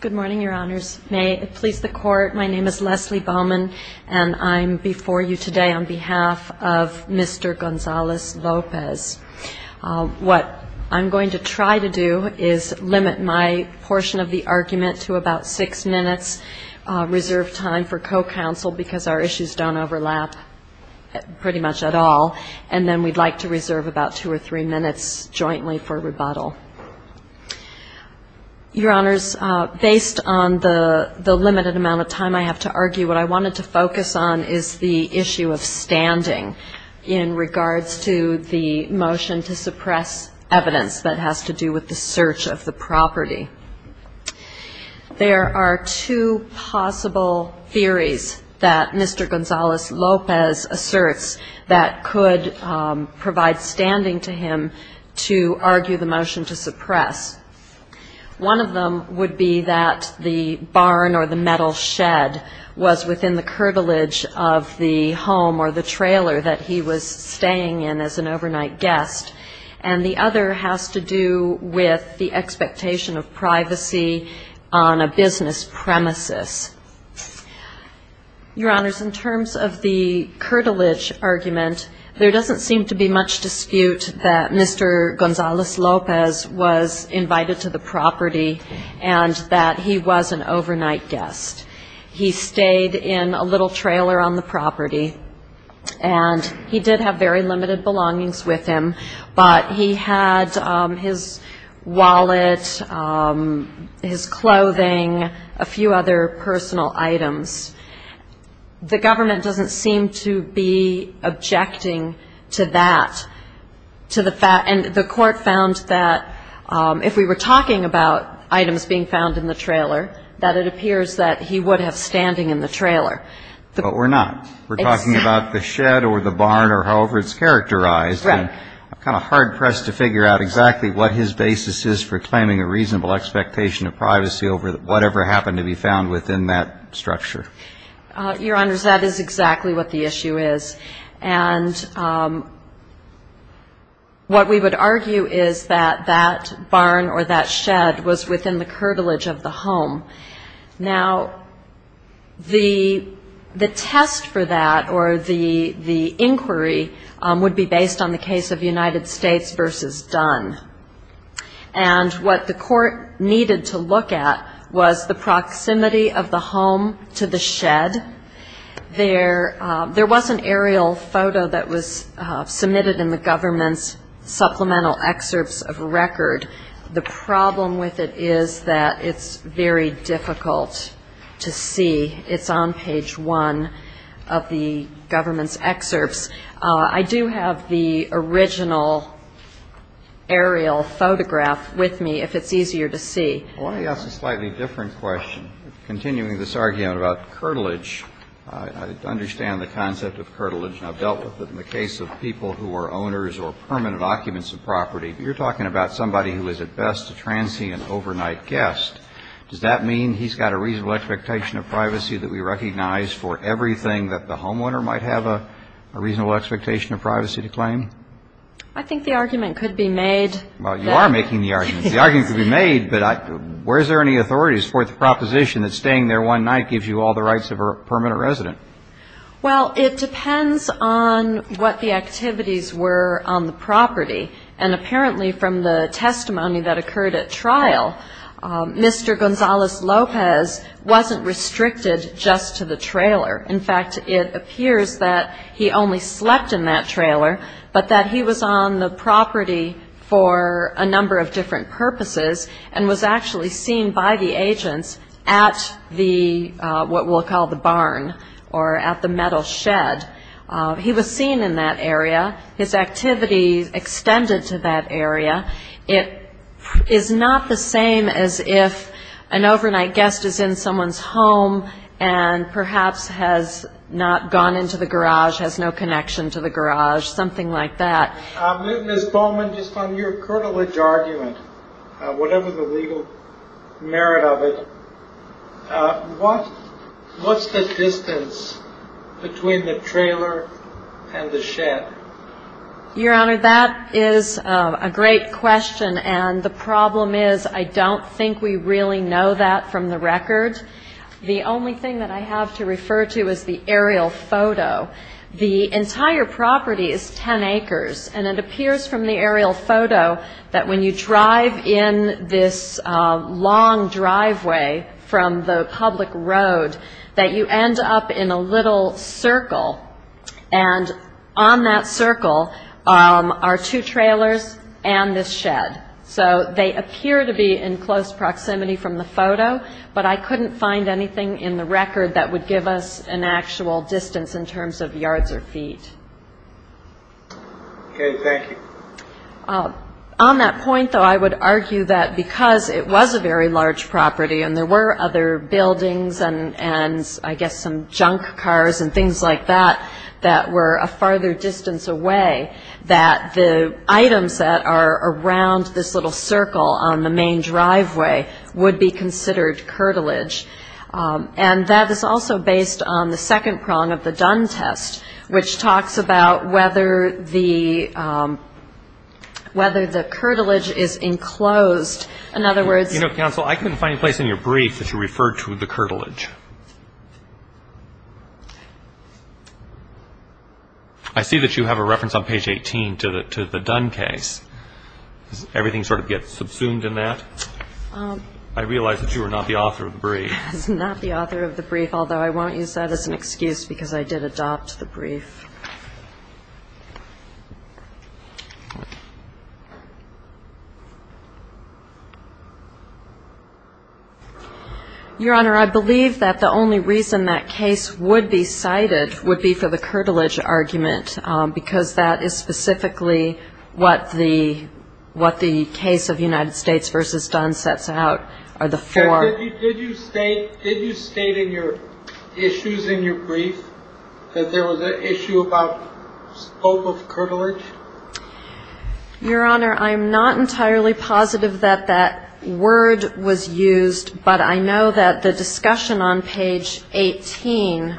Good morning, Your Honors. May it please the Court, my name is Leslie Bowman, and I'm before you today on behalf of Mr. Gonzalez-Lopez. What I'm going to try to do is limit my portion of the argument to about six minutes reserved time for co-counsel because our issues don't overlap pretty much at all, and then we'd like to reserve about two or three minutes jointly for rebuttal. Your Honors, based on the limited amount of time I have to argue, what I wanted to focus on is the issue of standing in regards to the motion to suppress evidence that has to do with the asserts that could provide standing to him to argue the motion to suppress. One of them would be that the barn or the metal shed was within the curtilage of the home or the trailer that he was staying in as an overnight guest, and the other has to do with the expectation of privacy on a curtilage argument. There doesn't seem to be much dispute that Mr. Gonzalez-Lopez was invited to the property and that he was an overnight guest. He stayed in a little trailer on the property, and he did have very limited belongings with him, but he had his wallet, his clothing, a few other personal items. The government doesn't seem to be objecting to that, and the court found that if we were talking about items being found in the trailer, that it appears that he would have standing in the trailer. But we're not. We're talking about the shed or the barn or however it's characterized. Right. I'm kind of hard-pressed to figure out exactly what his basis is for claiming a reasonable expectation of privacy over whatever happened to be found within that structure. Your Honors, that is exactly what the issue is. And what we would argue is that that barn or that shed was within the curtilage of the home. Now, the test for that or the inquiry would be based on the case of United States v. Dunn. And what the court needed to look at was the proximity of the home to the shed. There was an aerial photo that was submitted in the government's supplemental excerpts of record. The problem with it is that it's very difficult to see. It's on page one of the government's excerpts. I do have the original aerial photograph with me, if it's easier to see. I want to ask a slightly different question, continuing this argument about curtilage. I understand the concept of curtilage, and I've dealt with it in the case of people who are owners or permanent occupants of property. But you're talking about somebody who is at best a transient overnight guest. Does that mean he's got a reasonable expectation of privacy that we recognize for everything that the homeowner might have a reasonable expectation of privacy to claim? I think the argument could be made. Well, you are making the argument. The argument could be made, but where is there any authorities for the proposition that staying there one night gives you all the rights of a permanent resident? Well, it depends on what the activities were on the property. And apparently from the testimony that occurred at trial, Mr. Gonzales-Lopez wasn't restricted just to the trailer. In fact, it appears that he only slept in that trailer, but that he was on the property for a number of different purposes and was actually seen by the agents at the what we'll call the barn or at the metal shed. He was seen in that area. His activities extended to that area. It is not the same as if an overnight guest is in someone's home and perhaps has not gone into the garage, has no connection to the garage, something like that. Ms. Bowman, just on your curtilage argument, whatever the legal merit of it, what's the distance between the trailer and the shed? Your Honor, that is a great question, and the problem is I don't think we really know that from the record. The only thing that I have to refer to is the aerial photo. The entire property is 10 acres, and it appears from the aerial photo that when you drive in this long driveway from the public road, that you end up in a little circle, and on that circle are two trailers and this shed. So they appear to be in close proximity from the photo, but I couldn't find anything in the record that would give us an actual distance in terms of yards or feet. Okay, thank you. On that point, though, I would argue that because it was a very large property and there were other buildings and I guess some junk cars and things like that that were a farther distance away, that the items that are around this little circle on the main driveway would be considered curtilage. And that is also based on the second prong of the Dunn test, which talks about whether the curtilage is enclosed. In other words — You know, counsel, I couldn't find a place in your brief that you referred to the curtilage. I see that you have a reference on page 18 to the Dunn case. Does everything sort of get subsumed in that? I realize that you are not the author of the brief. I'm not the author of the brief, although I won't use that as an excuse because I did adopt the brief. Your Honor, I believe that the only reason that case would be cited would be for the curtilage argument because that is specifically what the case of United States v. Dunn sets out, are the four — Did you state in your issues in your brief that there was an issue about scope of curtilage? Your Honor, I'm not entirely positive that that word was used, but I know that the discussion on page 18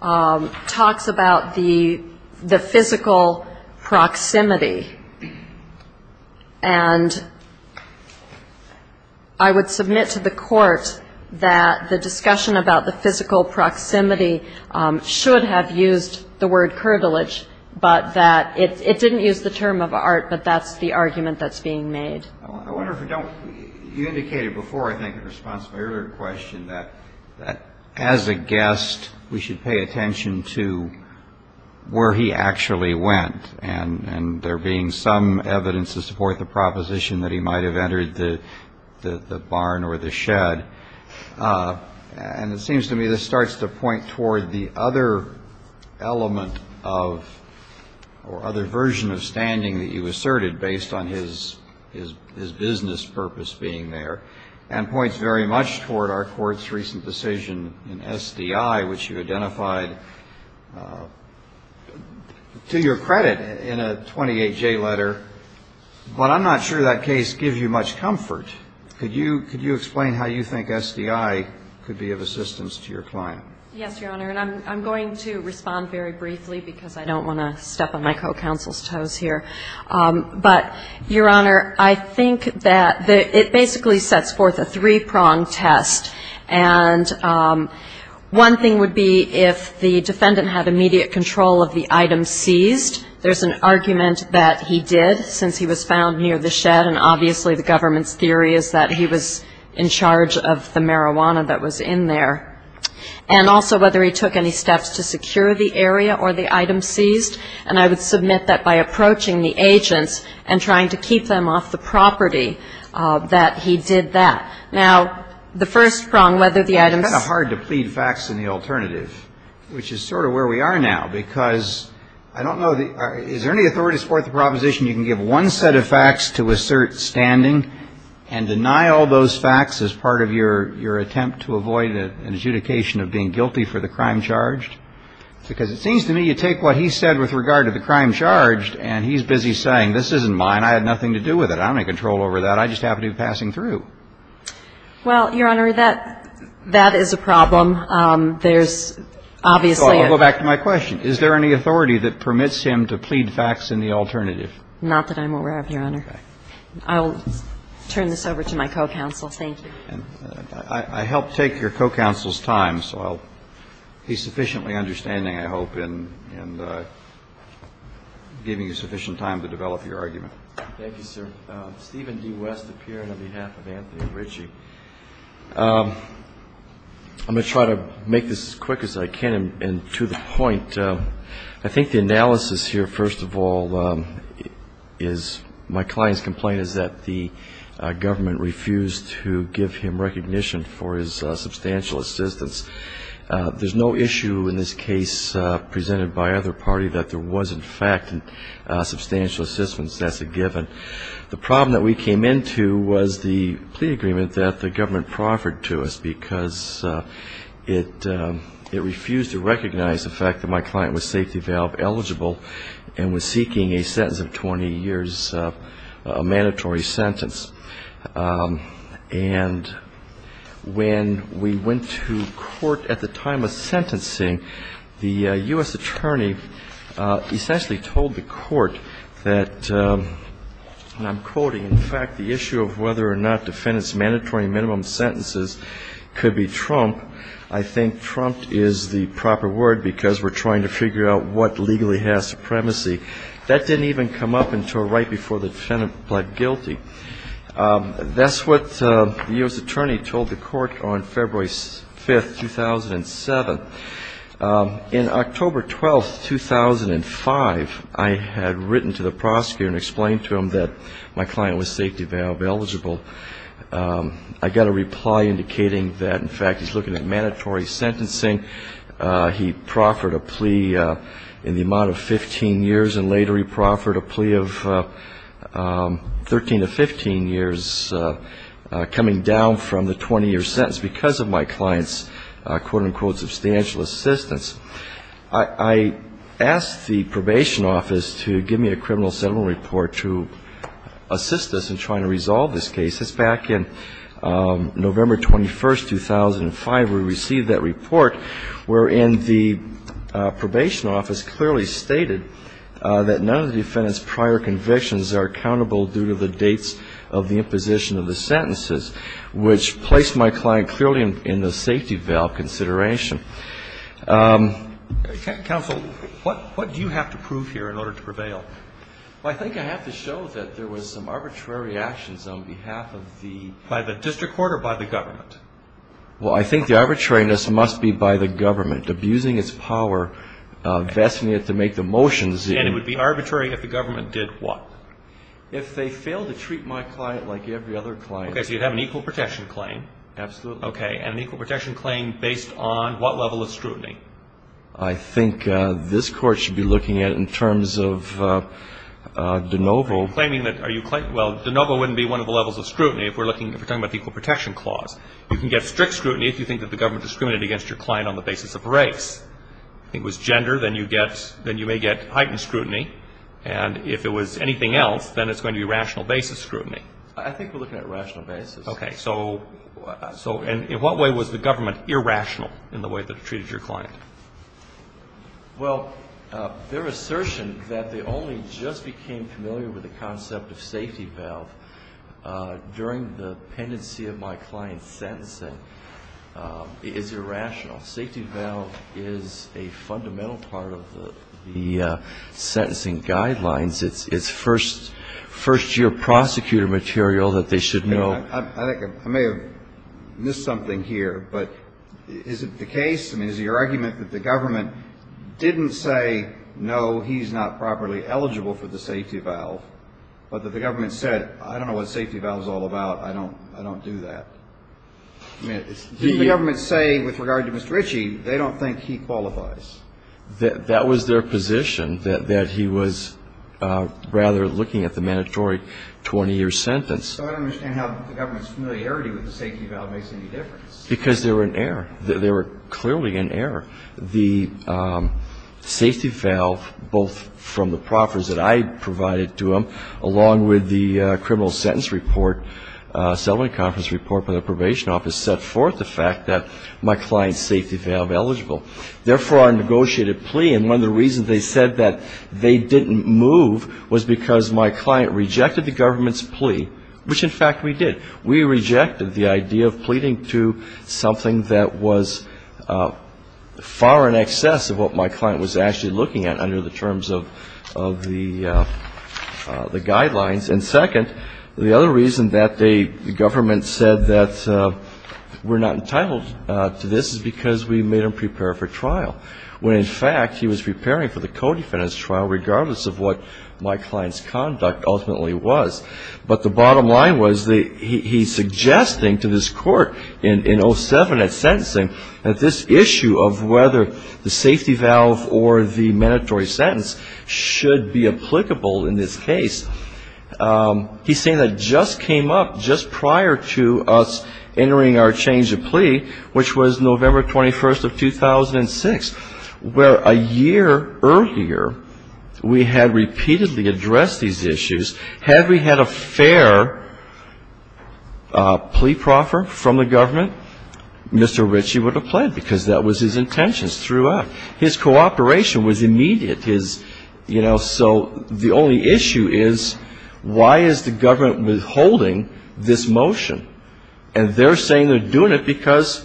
talks about the physical proximity, and I would submit to the Court that the discussion about the physical proximity should have used the word curtilage, but that it didn't use the term of art, but that's the argument that's being made. I wonder if you don't — you indicated before, I think, in response to my earlier question, that as a guest, we should pay attention to where he actually went, and there being some evidence to support the proposition that he might have entered the barn or the shed. And it seems to me this starts to point toward the other element of — or other version of standing that you asserted based on his business purpose being there and points very much toward our Court's recent decision in SDI, which you identified, to your credit, in a 28J letter, but I'm not sure that case gives you much comfort. Could you explain how you think SDI could be of assistance to your client? Yes, Your Honor, and I'm going to respond very briefly because I don't want to step on my co-counsel's toes here. But, Your Honor, I think that it basically sets forth a three-pronged test, and one thing would be if the defendant had immediate control of the item seized. There's an argument that he did, since he was found near the shed, and obviously the government's theory is that he was in charge of the marijuana that was in there. And also whether he took any steps to secure the area or the item seized, and I would submit that by approaching the agents and trying to keep them off the property that he did that. Now, the first prong, whether the item's — It's kind of hard to plead facts in the alternative, which is sort of where we are now, because I don't know the — is there any authority to support the proposition you can give one set of facts to assert standing and deny all those facts as part of your attempt to avoid an adjudication of being guilty for the crime charged? Because it seems to me you take what he said with regard to the crime charged, and he's busy saying this isn't mine, I had nothing to do with it, I don't have any control over that, I just happen to be passing through. Well, Your Honor, that is a problem. There's obviously a — So I'll go back to my question. Is there any authority that permits him to plead facts in the alternative? Not that I'm aware of, Your Honor. Okay. I'll turn this over to my co-counsel. Thank you. I helped take your co-counsel's time, so I'll be sufficiently understanding, I hope, in giving you sufficient time to develop your argument. Thank you, sir. Stephen D. West, a peer, and on behalf of Anthony and Richie. I'm going to try to make this as quick as I can and to the point. I think the analysis here, first of all, is my client's complaint is that the government refused to give him recognition for his substantial assistance. There's no issue in this case presented by either party that there was, in fact, substantial assistance as a given. The problem that we came into was the plea agreement that the government proffered to us because it refused to recognize the fact that my client was safety valve eligible and was seeking a sentence of 20 years, a mandatory sentence. And when we went to court at the time of sentencing, the U.S. attorney essentially told the court that, and I'm quoting, in fact, the issue of whether or not defendants' mandatory minimum sentences could be trumped. I think trumped is the proper word because we're trying to figure out what legally has supremacy. That didn't even come up until right before the defendant pled guilty. That's what the U.S. attorney told the court on February 5, 2007. In October 12, 2005, I had written to the prosecutor and explained to him that my client was safety valve eligible. I got a reply indicating that, in fact, he's looking at mandatory sentencing. He proffered a plea in the amount of 15 years, and later he proffered a plea of 13 to 15 years, coming down from the 20-year sentence because of my client's, quote-unquote, substantial assistance. I asked the probation office to give me a criminal settlement report to assist us in trying to resolve this case. Back in November 21, 2005, we received that report, wherein the probation office clearly stated that none of the defendant's prior convictions are accountable due to the dates of the imposition of the sentences, which placed my client clearly in the safety valve consideration. Counsel, what do you have to prove here in order to prevail? Well, I think I have to show that there was some arbitrary actions on behalf of the ---- By the district court or by the government? Well, I think the arbitrariness must be by the government abusing its power, vesting it to make the motions. And it would be arbitrary if the government did what? If they failed to treat my client like every other client. Okay, so you'd have an equal protection claim. Absolutely. Okay, and an equal protection claim based on what level of scrutiny? I think this Court should be looking at it in terms of de novo. Are you claiming that ---- well, de novo wouldn't be one of the levels of scrutiny if we're looking ---- if we're talking about the equal protection clause. You can get strict scrutiny if you think that the government discriminated against your client on the basis of race. If it was gender, then you may get heightened scrutiny. And if it was anything else, then it's going to be rational basis scrutiny. I think we're looking at rational basis. Okay, so in what way was the government irrational in the way that it treated your client? Well, their assertion that they only just became familiar with the concept of safety valve during the pendency of my client's sentencing is irrational. Safety valve is a fundamental part of the sentencing guidelines. It's first-year prosecutor material that they should know. I think I may have missed something here, but is it the case? I mean, is it your argument that the government didn't say, no, he's not properly eligible for the safety valve, but that the government said, I don't know what safety valve is all about, I don't do that? I mean, didn't the government say with regard to Mr. Ritchie, they don't think he qualifies? That was their position, that he was rather looking at the mandatory 20-year sentence. So I don't understand how the government's familiarity with the safety valve makes any difference. Because they were in error. They were clearly in error. The safety valve, both from the proffers that I provided to them, along with the criminal sentence report, settlement conference report by the probation office, set forth the fact that my client's safety valve eligible. Therefore, I negotiated a plea. And one of the reasons they said that they didn't move was because my client rejected the government's plea, which, in fact, we did. We rejected the idea of pleading to something that was far in excess of what my client was actually looking at under the terms of the guidelines. And second, the other reason that the government said that we're not entitled to this is because we made him prepare for trial, when, in fact, he was preparing for the co-defendant's trial, regardless of what my client's conduct ultimately was. But the bottom line was he's suggesting to this Court in 07 at sentencing that this issue of whether the safety valve or the mandatory sentence should be applicable in this case. He's saying that just came up just prior to us entering our change of plea, which was November 21st of 2006, where a year earlier we had repeatedly addressed these issues. Had we had a fair plea proffer from the government, Mr. Ritchie would have pled, because that was his intentions throughout. His cooperation was immediate. You know, so the only issue is why is the government withholding this motion? And they're saying they're doing it because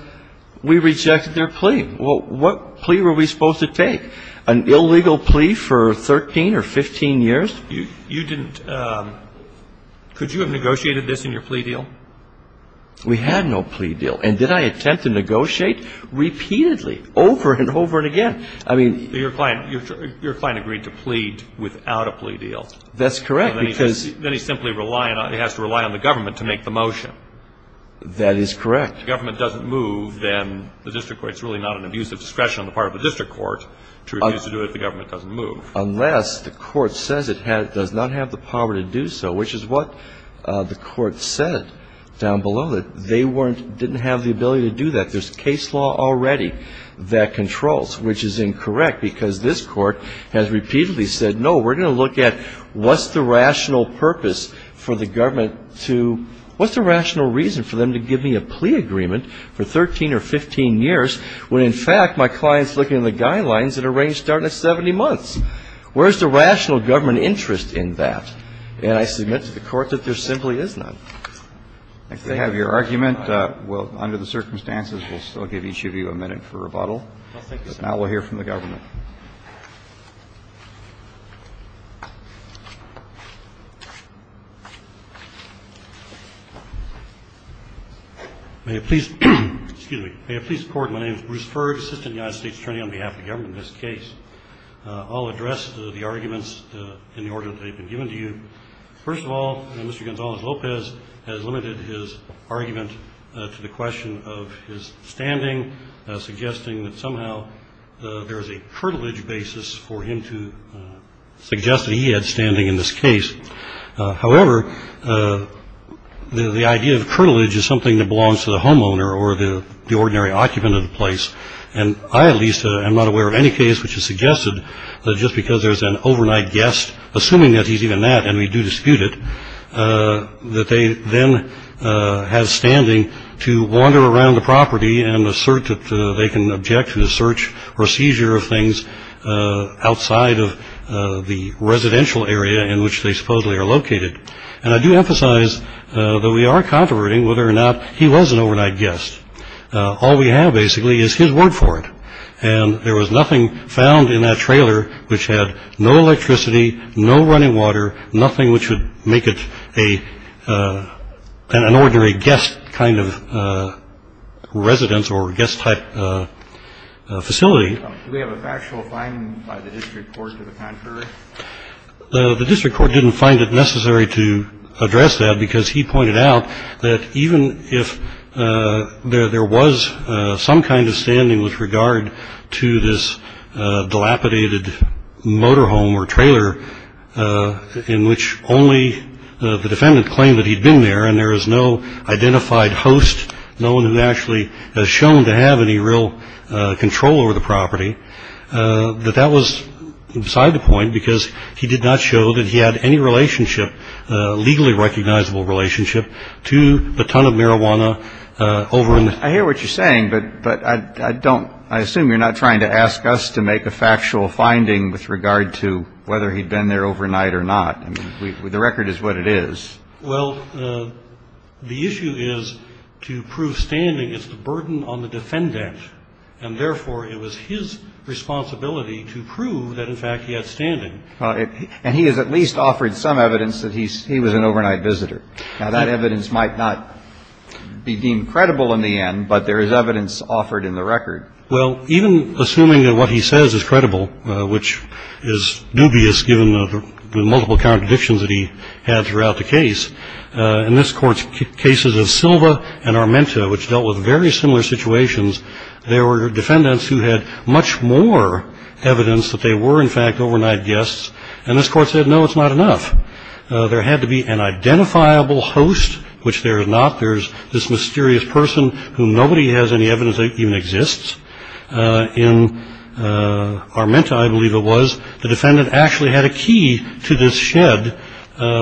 we rejected their plea. Well, what plea were we supposed to take? An illegal plea for 13 or 15 years? You didn't. Could you have negotiated this in your plea deal? We had no plea deal. And did I attempt to negotiate? Repeatedly, over and over again. Your client agreed to plead without a plea deal. That's correct. Then he simply has to rely on the government to make the motion. That is correct. If the government doesn't move, then the district court's really not an abusive discretion on the part of the district court to refuse to do it if the government doesn't move. Unless the court says it does not have the power to do so, which is what the court said down below, that they didn't have the ability to do that. There's case law already that controls, which is incorrect, because this court has repeatedly said, no, we're going to look at what's the rational purpose for the government to ‑‑ what's the rational reason for them to give me a plea agreement for 13 or 15 years when, in fact, my client's looking at the guidelines that are starting at 70 months? Where's the rational government interest in that? And I submit to the Court that there simply is not. If they have your argument, we'll, under the circumstances, we'll still give each of you a minute for rebuttal. But now we'll hear from the government. May it please ‑‑ excuse me. May it please the Court, my name is Bruce Ferg, Assistant United States Attorney on behalf of the government in this case. I'll address the arguments in the order that they've been given to you. First of all, Mr. Gonzalez-Lopez has limited his argument to the question of his standing, suggesting that somehow there is a curtilage basis for him to suggest that he had standing in this case. However, the idea of curtilage is something that belongs to the homeowner or the ordinary occupant of the place. And I, at least, am not aware of any case which has suggested that just because there's an overnight guest, assuming that he's even that, and we do dispute it, that they then have standing to wander around the property and assert that they can object to the search or seizure of things outside of the residential area in which they supposedly are located. And I do emphasize that we are controverting whether or not he was an overnight guest. All we have, basically, is his word for it. And there was nothing found in that trailer which had no electricity, no running water, nothing which would make it an ordinary guest kind of residence or guest-type facility. Do we have a factual finding by the district court to the contrary? The district court didn't find it necessary to address that because he pointed out that even if there was some kind of standing with regard to this dilapidated motorhome or trailer in which only the defendant claimed that he'd been there and there is no identified host, no one who actually has shown to have any real control over the property, that that was beside the point because he did not show that he had any relationship, legally recognizable relationship, to the ton of marijuana over in the... I hear what you're saying, but I assume you're not trying to ask us to make a factual finding with regard to whether he'd been there overnight or not. The record is what it is. Well, the issue is to prove standing is the burden on the defendant, and therefore it was his responsibility to prove that, in fact, he had standing. And he has at least offered some evidence that he was an overnight visitor. Now, that evidence might not be deemed credible in the end, but there is evidence offered in the record. Well, even assuming that what he says is credible, which is dubious given the multiple contradictions that he had throughout the case, in this court's cases of Silva and Armenta, which dealt with very similar situations, there were defendants who had much more evidence that they were, in fact, overnight guests. And this court said, no, it's not enough. There had to be an identifiable host, which there is not. There is this mysterious person whom nobody has any evidence that even exists. In Armenta, I believe it was, the defendant actually had a key to this shed,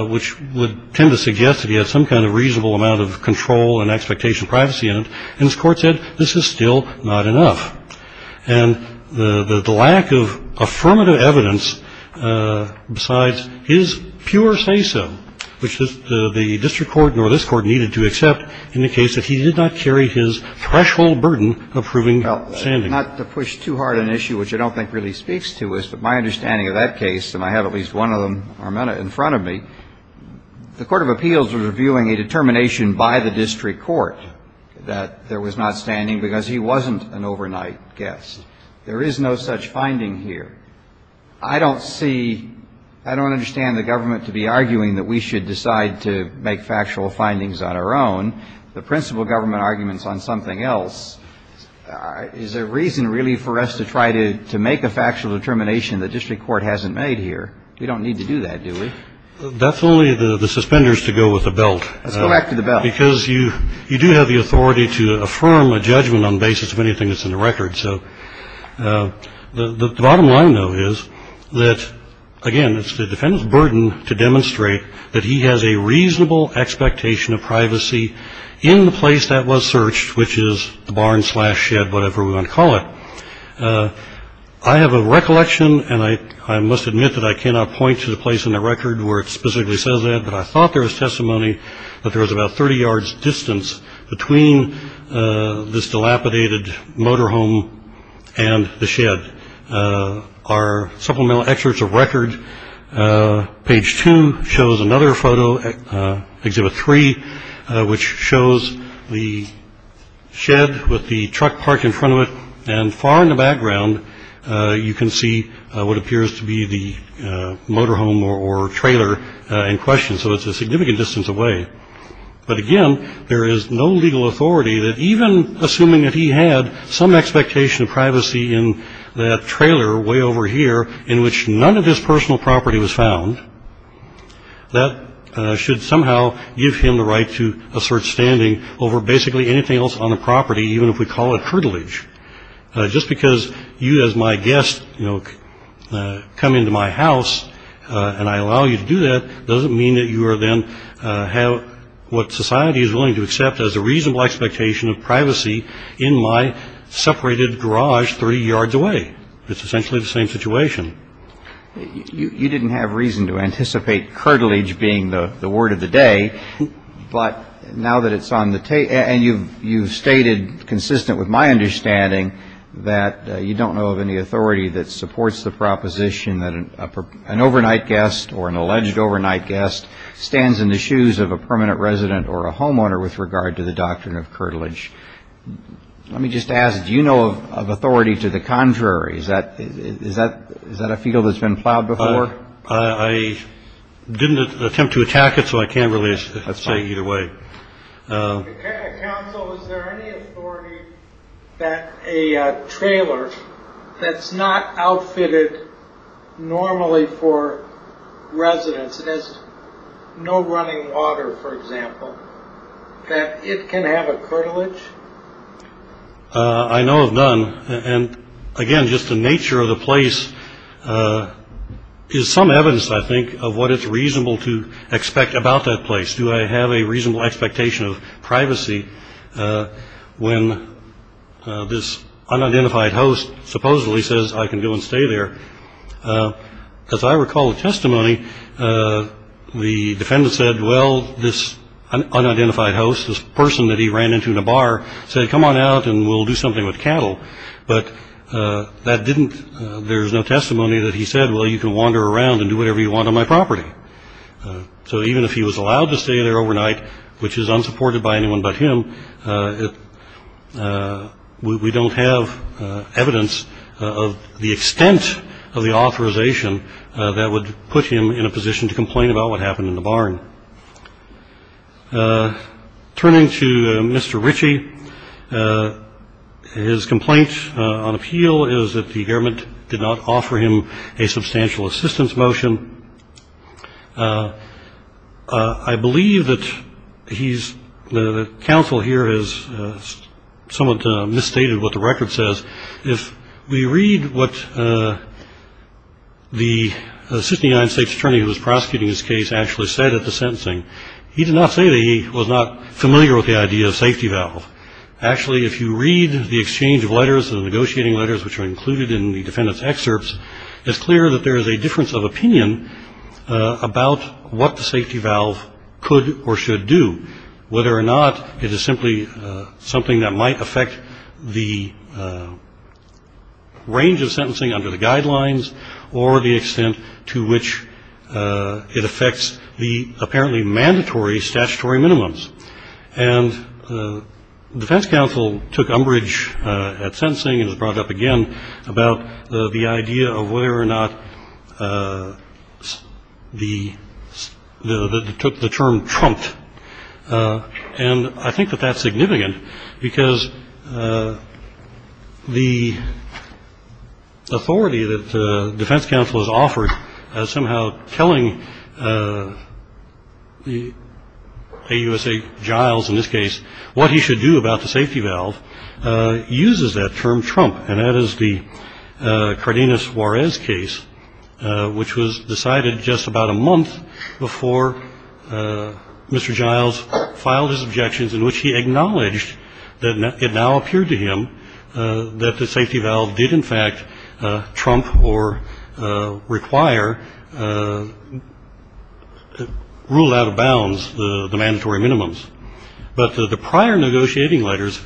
which would tend to suggest that he had some kind of reasonable amount of control and expectation of privacy in it. And this court said, this is still not enough. And the lack of affirmative evidence besides his pure say-so, which the district court nor this Court needed to accept, indicates that he did not carry his threshold burden of proving standing. Well, not to push too hard an issue which I don't think really speaks to us, but my understanding of that case, and I have at least one of them, Armenta, in front of me, the Court of Appeals was reviewing a determination by the district court that there was not standing because he wasn't an overnight guest. There is no such finding here. I don't see, I don't understand the government to be arguing that we should decide to make factual findings on our own. The principal government arguments on something else is a reason really for us to try to make a factual determination the district court hasn't made here. We don't need to do that, do we? That's only the suspenders to go with the belt. Let's go back to the belt. Because you do have the authority to affirm a judgment on the basis of anything that's in the record. So the bottom line, though, is that, again, it's the defendant's burden to demonstrate that he has a reasonable expectation of privacy in the place that was searched, which is the barn slash shed, whatever we want to call it. I have a recollection, and I must admit that I cannot point to the place in the record where it specifically says that, but I thought there was testimony that there was about 30 yards distance between this dilapidated motor home and the shed. Our supplemental excerpts of record, page two, shows another photo, exhibit three, which shows the shed with the truck parked in front of it, and far in the background, you can see what appears to be the motor home or trailer in question. So it's a significant distance away. But, again, there is no legal authority that even assuming that he had some expectation of privacy in that trailer way over here in which none of his personal property was found, that should somehow give him the right to assert standing over basically anything else on the property, even if we call it heritage. Just because you as my guest, you know, come into my house and I allow you to do that doesn't mean that you are then have what society is willing to accept as a reasonable expectation of privacy in my separated garage 30 yards away. It's essentially the same situation. You didn't have reason to anticipate curtilage being the word of the day, but now that it's on the tape and you've stated consistent with my understanding that you don't know of any authority that supports the proposition that an overnight guest or an alleged overnight guest stands in the shoes of a permanent resident or a homeowner with regard to the doctrine of curtilage. Let me just ask, do you know of authority to the contrary? Is that a field that's been plowed before? I didn't attempt to attack it, so I can't really say either way. Counsel, is there any authority that a trailer that's not outfitted normally for residents that has no running water, for example, that it can have a curtilage? I know of none. And again, just the nature of the place is some evidence, I think, of what it's reasonable to expect about that place. Do I have a reasonable expectation of privacy when this unidentified host supposedly says I can go and stay there? As I recall the testimony, the defendant said, well, this unidentified host, this person that he ran into in a bar, said, come on out and we'll do something with cattle. But that didn't, there's no testimony that he said, well, you can wander around and do whatever you want on my property. So even if he was allowed to stay there overnight, which is unsupported by anyone but him, we don't have evidence of the extent of the authorization that would put him in a position to complain about what happened in the barn. Turning to Mr. Ritchie, his complaint on appeal is that the government did not offer him a substantial assistance motion. I believe that he's, the counsel here has somewhat misstated what the record says. If we read what the assistant United States attorney who was prosecuting this case actually said at the sentencing, he did not say that he was not familiar with the idea of safety valve. Actually, if you read the exchange of letters and the negotiating letters which are included in the defendant's excerpts, it's clear that there is a difference of opinion about what the safety valve could or should do. Whether or not it is simply something that might affect the range of sentencing under the guidelines or the extent to which it affects the apparently mandatory statutory minimums. And defense counsel took umbrage at sentencing and was brought up again about the idea of whether or not the, took the term trumped. And I think that that's significant because the authority that the defense counsel has offered as somehow telling the AUSA Giles in this case what he should do about the safety valve uses that term trump and that is the Cardenas-Juarez case which was decided just about a month before Mr. Giles filed his objections in which he acknowledged that it now appeared to him that the safety valve did in fact trump or require rule out of bounds the mandatory minimums. But the prior negotiating letters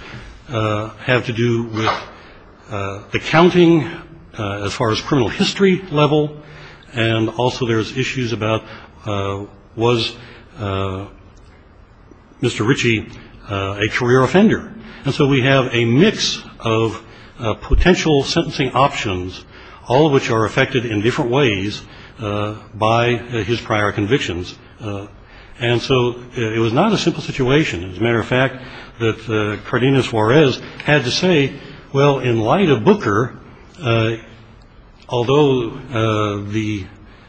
have to do with the counting as far as criminal history level and also there's issues about was Mr. Ritchie a career offender. And so we have a mix of potential sentencing options all of which are affected in different ways by his prior convictions. And so it was not a simple situation. As a matter of fact that Cardenas-Juarez had to say well in light of Booker although the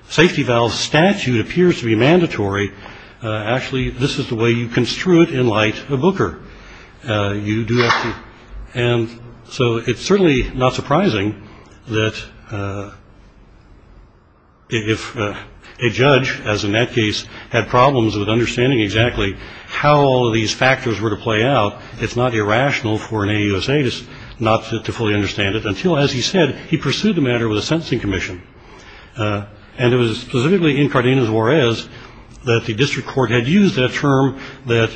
safety valve statute appears to be mandatory actually this is the way you construe it in light of Booker. You do have to and so it's certainly not surprising that if a judge as in that case had problems with understanding exactly how all of these factors were to play out it's not irrational for an AUSA not to fully understand it until as he said he pursued the matter with a sentencing commission. And it was specifically in Cardenas-Juarez that the district court had used that term that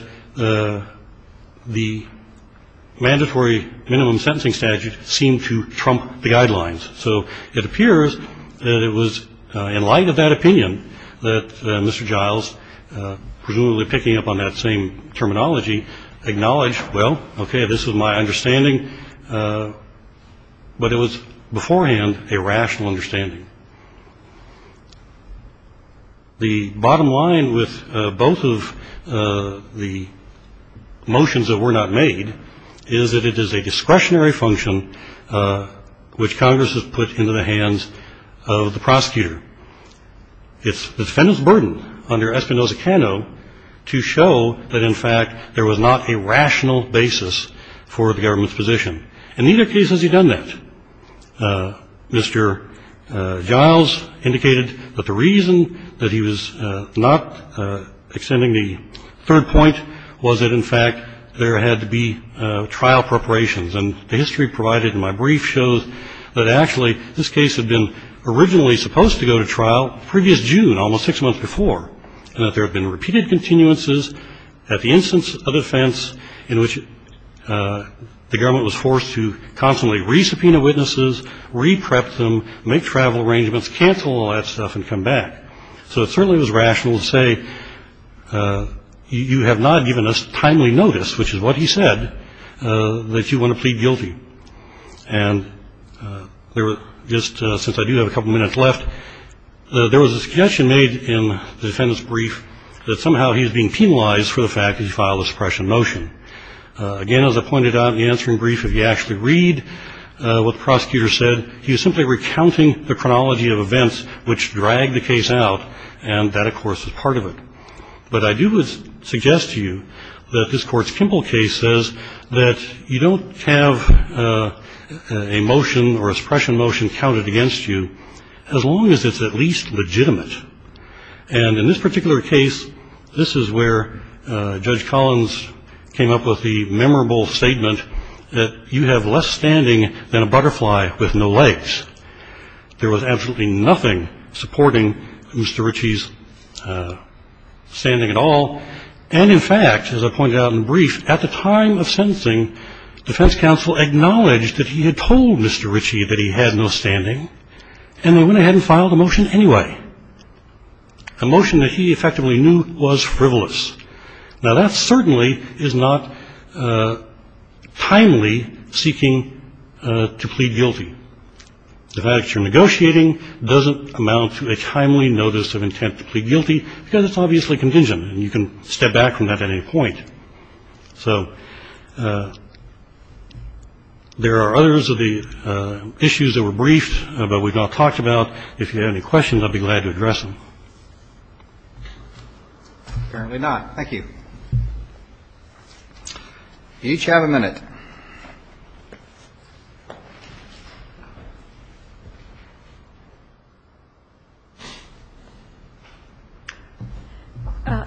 the mandatory minimum sentencing statute seemed to trump the guidelines. So it appears that it was in light of that opinion that Mr. Giles presumably picking up on that same terminology acknowledged well okay this is my understanding but it was beforehand a rational understanding. The bottom line with both of the motions that were not made is that it is a discretionary function which Congress has put into the hands of the prosecutor. It's the defendant's burden under Espinoza-Cano to show that in fact there was not a rational basis for the government's position. And neither case has he done that. Mr. Giles indicated that the reason that he was not extending the third point was that in fact there had to be trial preparations. And the history provided in my brief shows that actually this case had been originally supposed to go to trial previous June, almost six months before. And that there had been repeated continuances at the instance of defense in which the government was forced to constantly re-subpoena witnesses, re-prep them, make travel arrangements, cancel all that stuff and come back. So it certainly was rational to say you have not given us timely notice, which is what he said, that you want to plead guilty. And since I do have a couple minutes left, there was a suggestion made in the defendant's brief that somehow he is being penalized for the fact that he filed a suppression motion. Again, as I pointed out in the answering brief, if you actually read what the prosecutor said, he was simply recounting the chronology of events which dragged the case out. And that, of course, is part of it. But I do suggest to you that this Court's Kimball case says that you don't have a motion or a suppression motion counted against you as long as it's at least legitimate. And in this particular case, this is where Judge Collins came up with the memorable statement that you have less standing than a butterfly with no legs. There was absolutely nothing supporting Mr. Ritchie's standing at all. And, in fact, as I pointed out in brief, at the time of sentencing, defense counsel acknowledged that he had told Mr. Ritchie that he had no standing, and they went ahead and filed a motion anyway, a motion that he effectively knew was frivolous. Now, that certainly is not timely seeking to plead guilty. The fact that you're negotiating doesn't amount to a timely notice of intent to plead guilty, because it's obviously contingent, and you can step back from that at any point. So there are others of the issues that were briefed but we've not talked about. If you have any questions, I'd be glad to address them. Apparently not. Thank you. You each have a minute.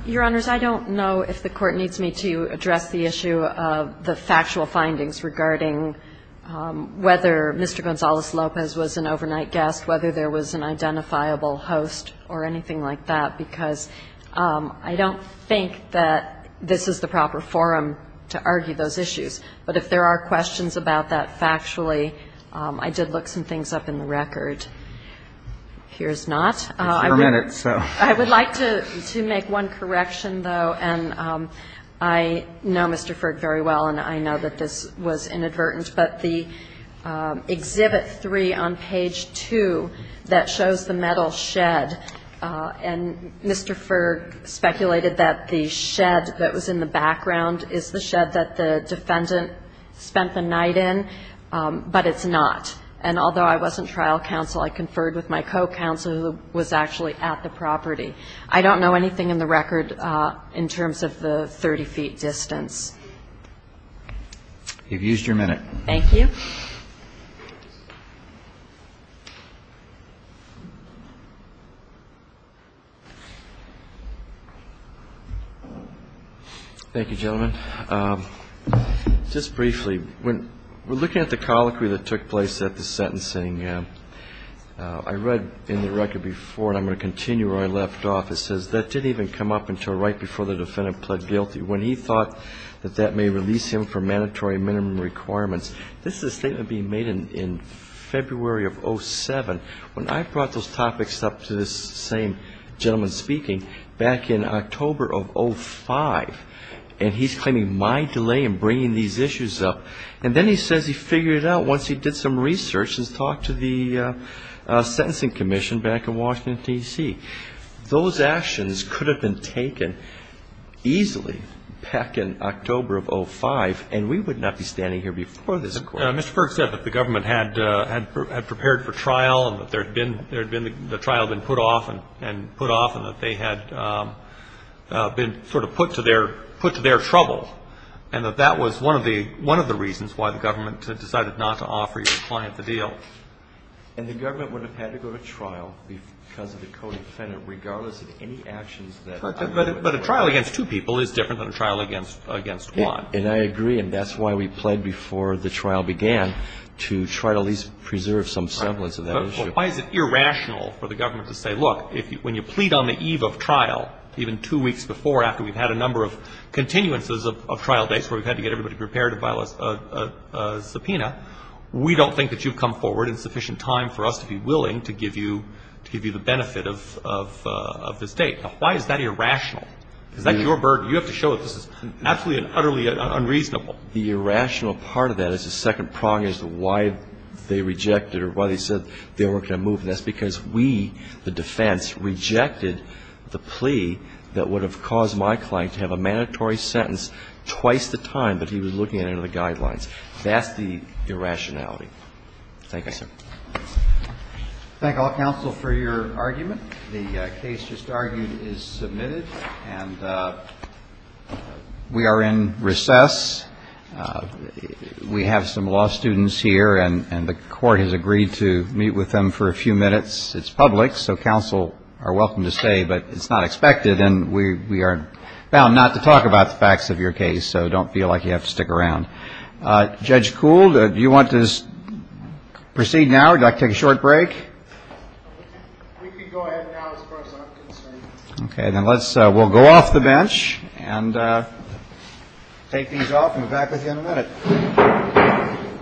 Your Honors, I don't know if the Court needs me to address the issue of the factual findings regarding whether Mr. Gonzales-Lopez was an overnight guest, whether there was an identifiable host or anything like that, because I don't think that this is the proper forum to argue those issues. But if there are questions about that factually, I did look some things up in the record. Here's not. It's your minute, so. I would like to make one correction, though. And I know Mr. Ferg very well, and I know that this was inadvertent. But the Exhibit 3 on page 2 that shows the metal shed, and Mr. Ferg speculated that the shed that was in the background is the shed that the defendant spent the night in. But it's not. And although I wasn't trial counsel, I conferred with my co-counsel who was actually at the property. I don't know anything in the record in terms of the 30-feet distance. You've used your minute. Thank you. Thank you, gentlemen. Just briefly, when we're looking at the colloquy that took place at the sentencing, I read in the record before, and I'm going to continue where I left off, it says, that didn't even come up until right before the defendant pled guilty, when he thought that that may release him from mandatory minimum requirements. This is a statement being made in February of 07, when I brought those topics up to this same gentleman speaking back in October of 05. And he's claiming my delay in bringing these issues up. And then he says he figured it out once he did some research and talked to the sentencing commission back in Washington, D.C. Those actions could have been taken easily back in October of 05, and we would not be standing here before this Court. Mr. Ferg said that the government had prepared for trial and that there had been the trial had been put off and put off and that they had been sort of put to their trouble, and that that was one of the reasons why the government decided not to offer your client the deal. And the government would have had to go to trial because of the co-defendant, regardless of any actions that were taken. But a trial against two people is different than a trial against one. And I agree. And that's why we pled before the trial began, to try to at least preserve some semblance of that issue. But why is it irrational for the government to say, look, when you plead on the eve of trial, even two weeks before after we've had a number of continuances of trial dates where we've had to get everybody prepared to file a subpoena, we don't think that you've come forward in sufficient time for us to be willing to give you the benefit of this date. Now, why is that irrational? Is that your burden? You have to show that this is absolutely and utterly unreasonable. The irrational part of that is the second prong as to why they rejected or why they said they weren't going to move. And that's because we, the defense, rejected the plea that would have caused my client to have a mandatory sentence twice the time that he was looking at under the guidelines. That's the irrationality. Thank you, sir. Thank all counsel for your argument. The case just argued is submitted. And we are in recess. We have some law students here, and the Court has agreed to meet with them for a few minutes. It's public, so counsel are welcome to stay, but it's not expected. And we are bound not to talk about the facts of your case, so don't feel like you have to stick around. Judge Kuhl, do you want to proceed now or do you like to take a short break? We can go ahead now as far as I'm concerned. Okay. Then we'll go off the bench and take these off and be back with you in a minute.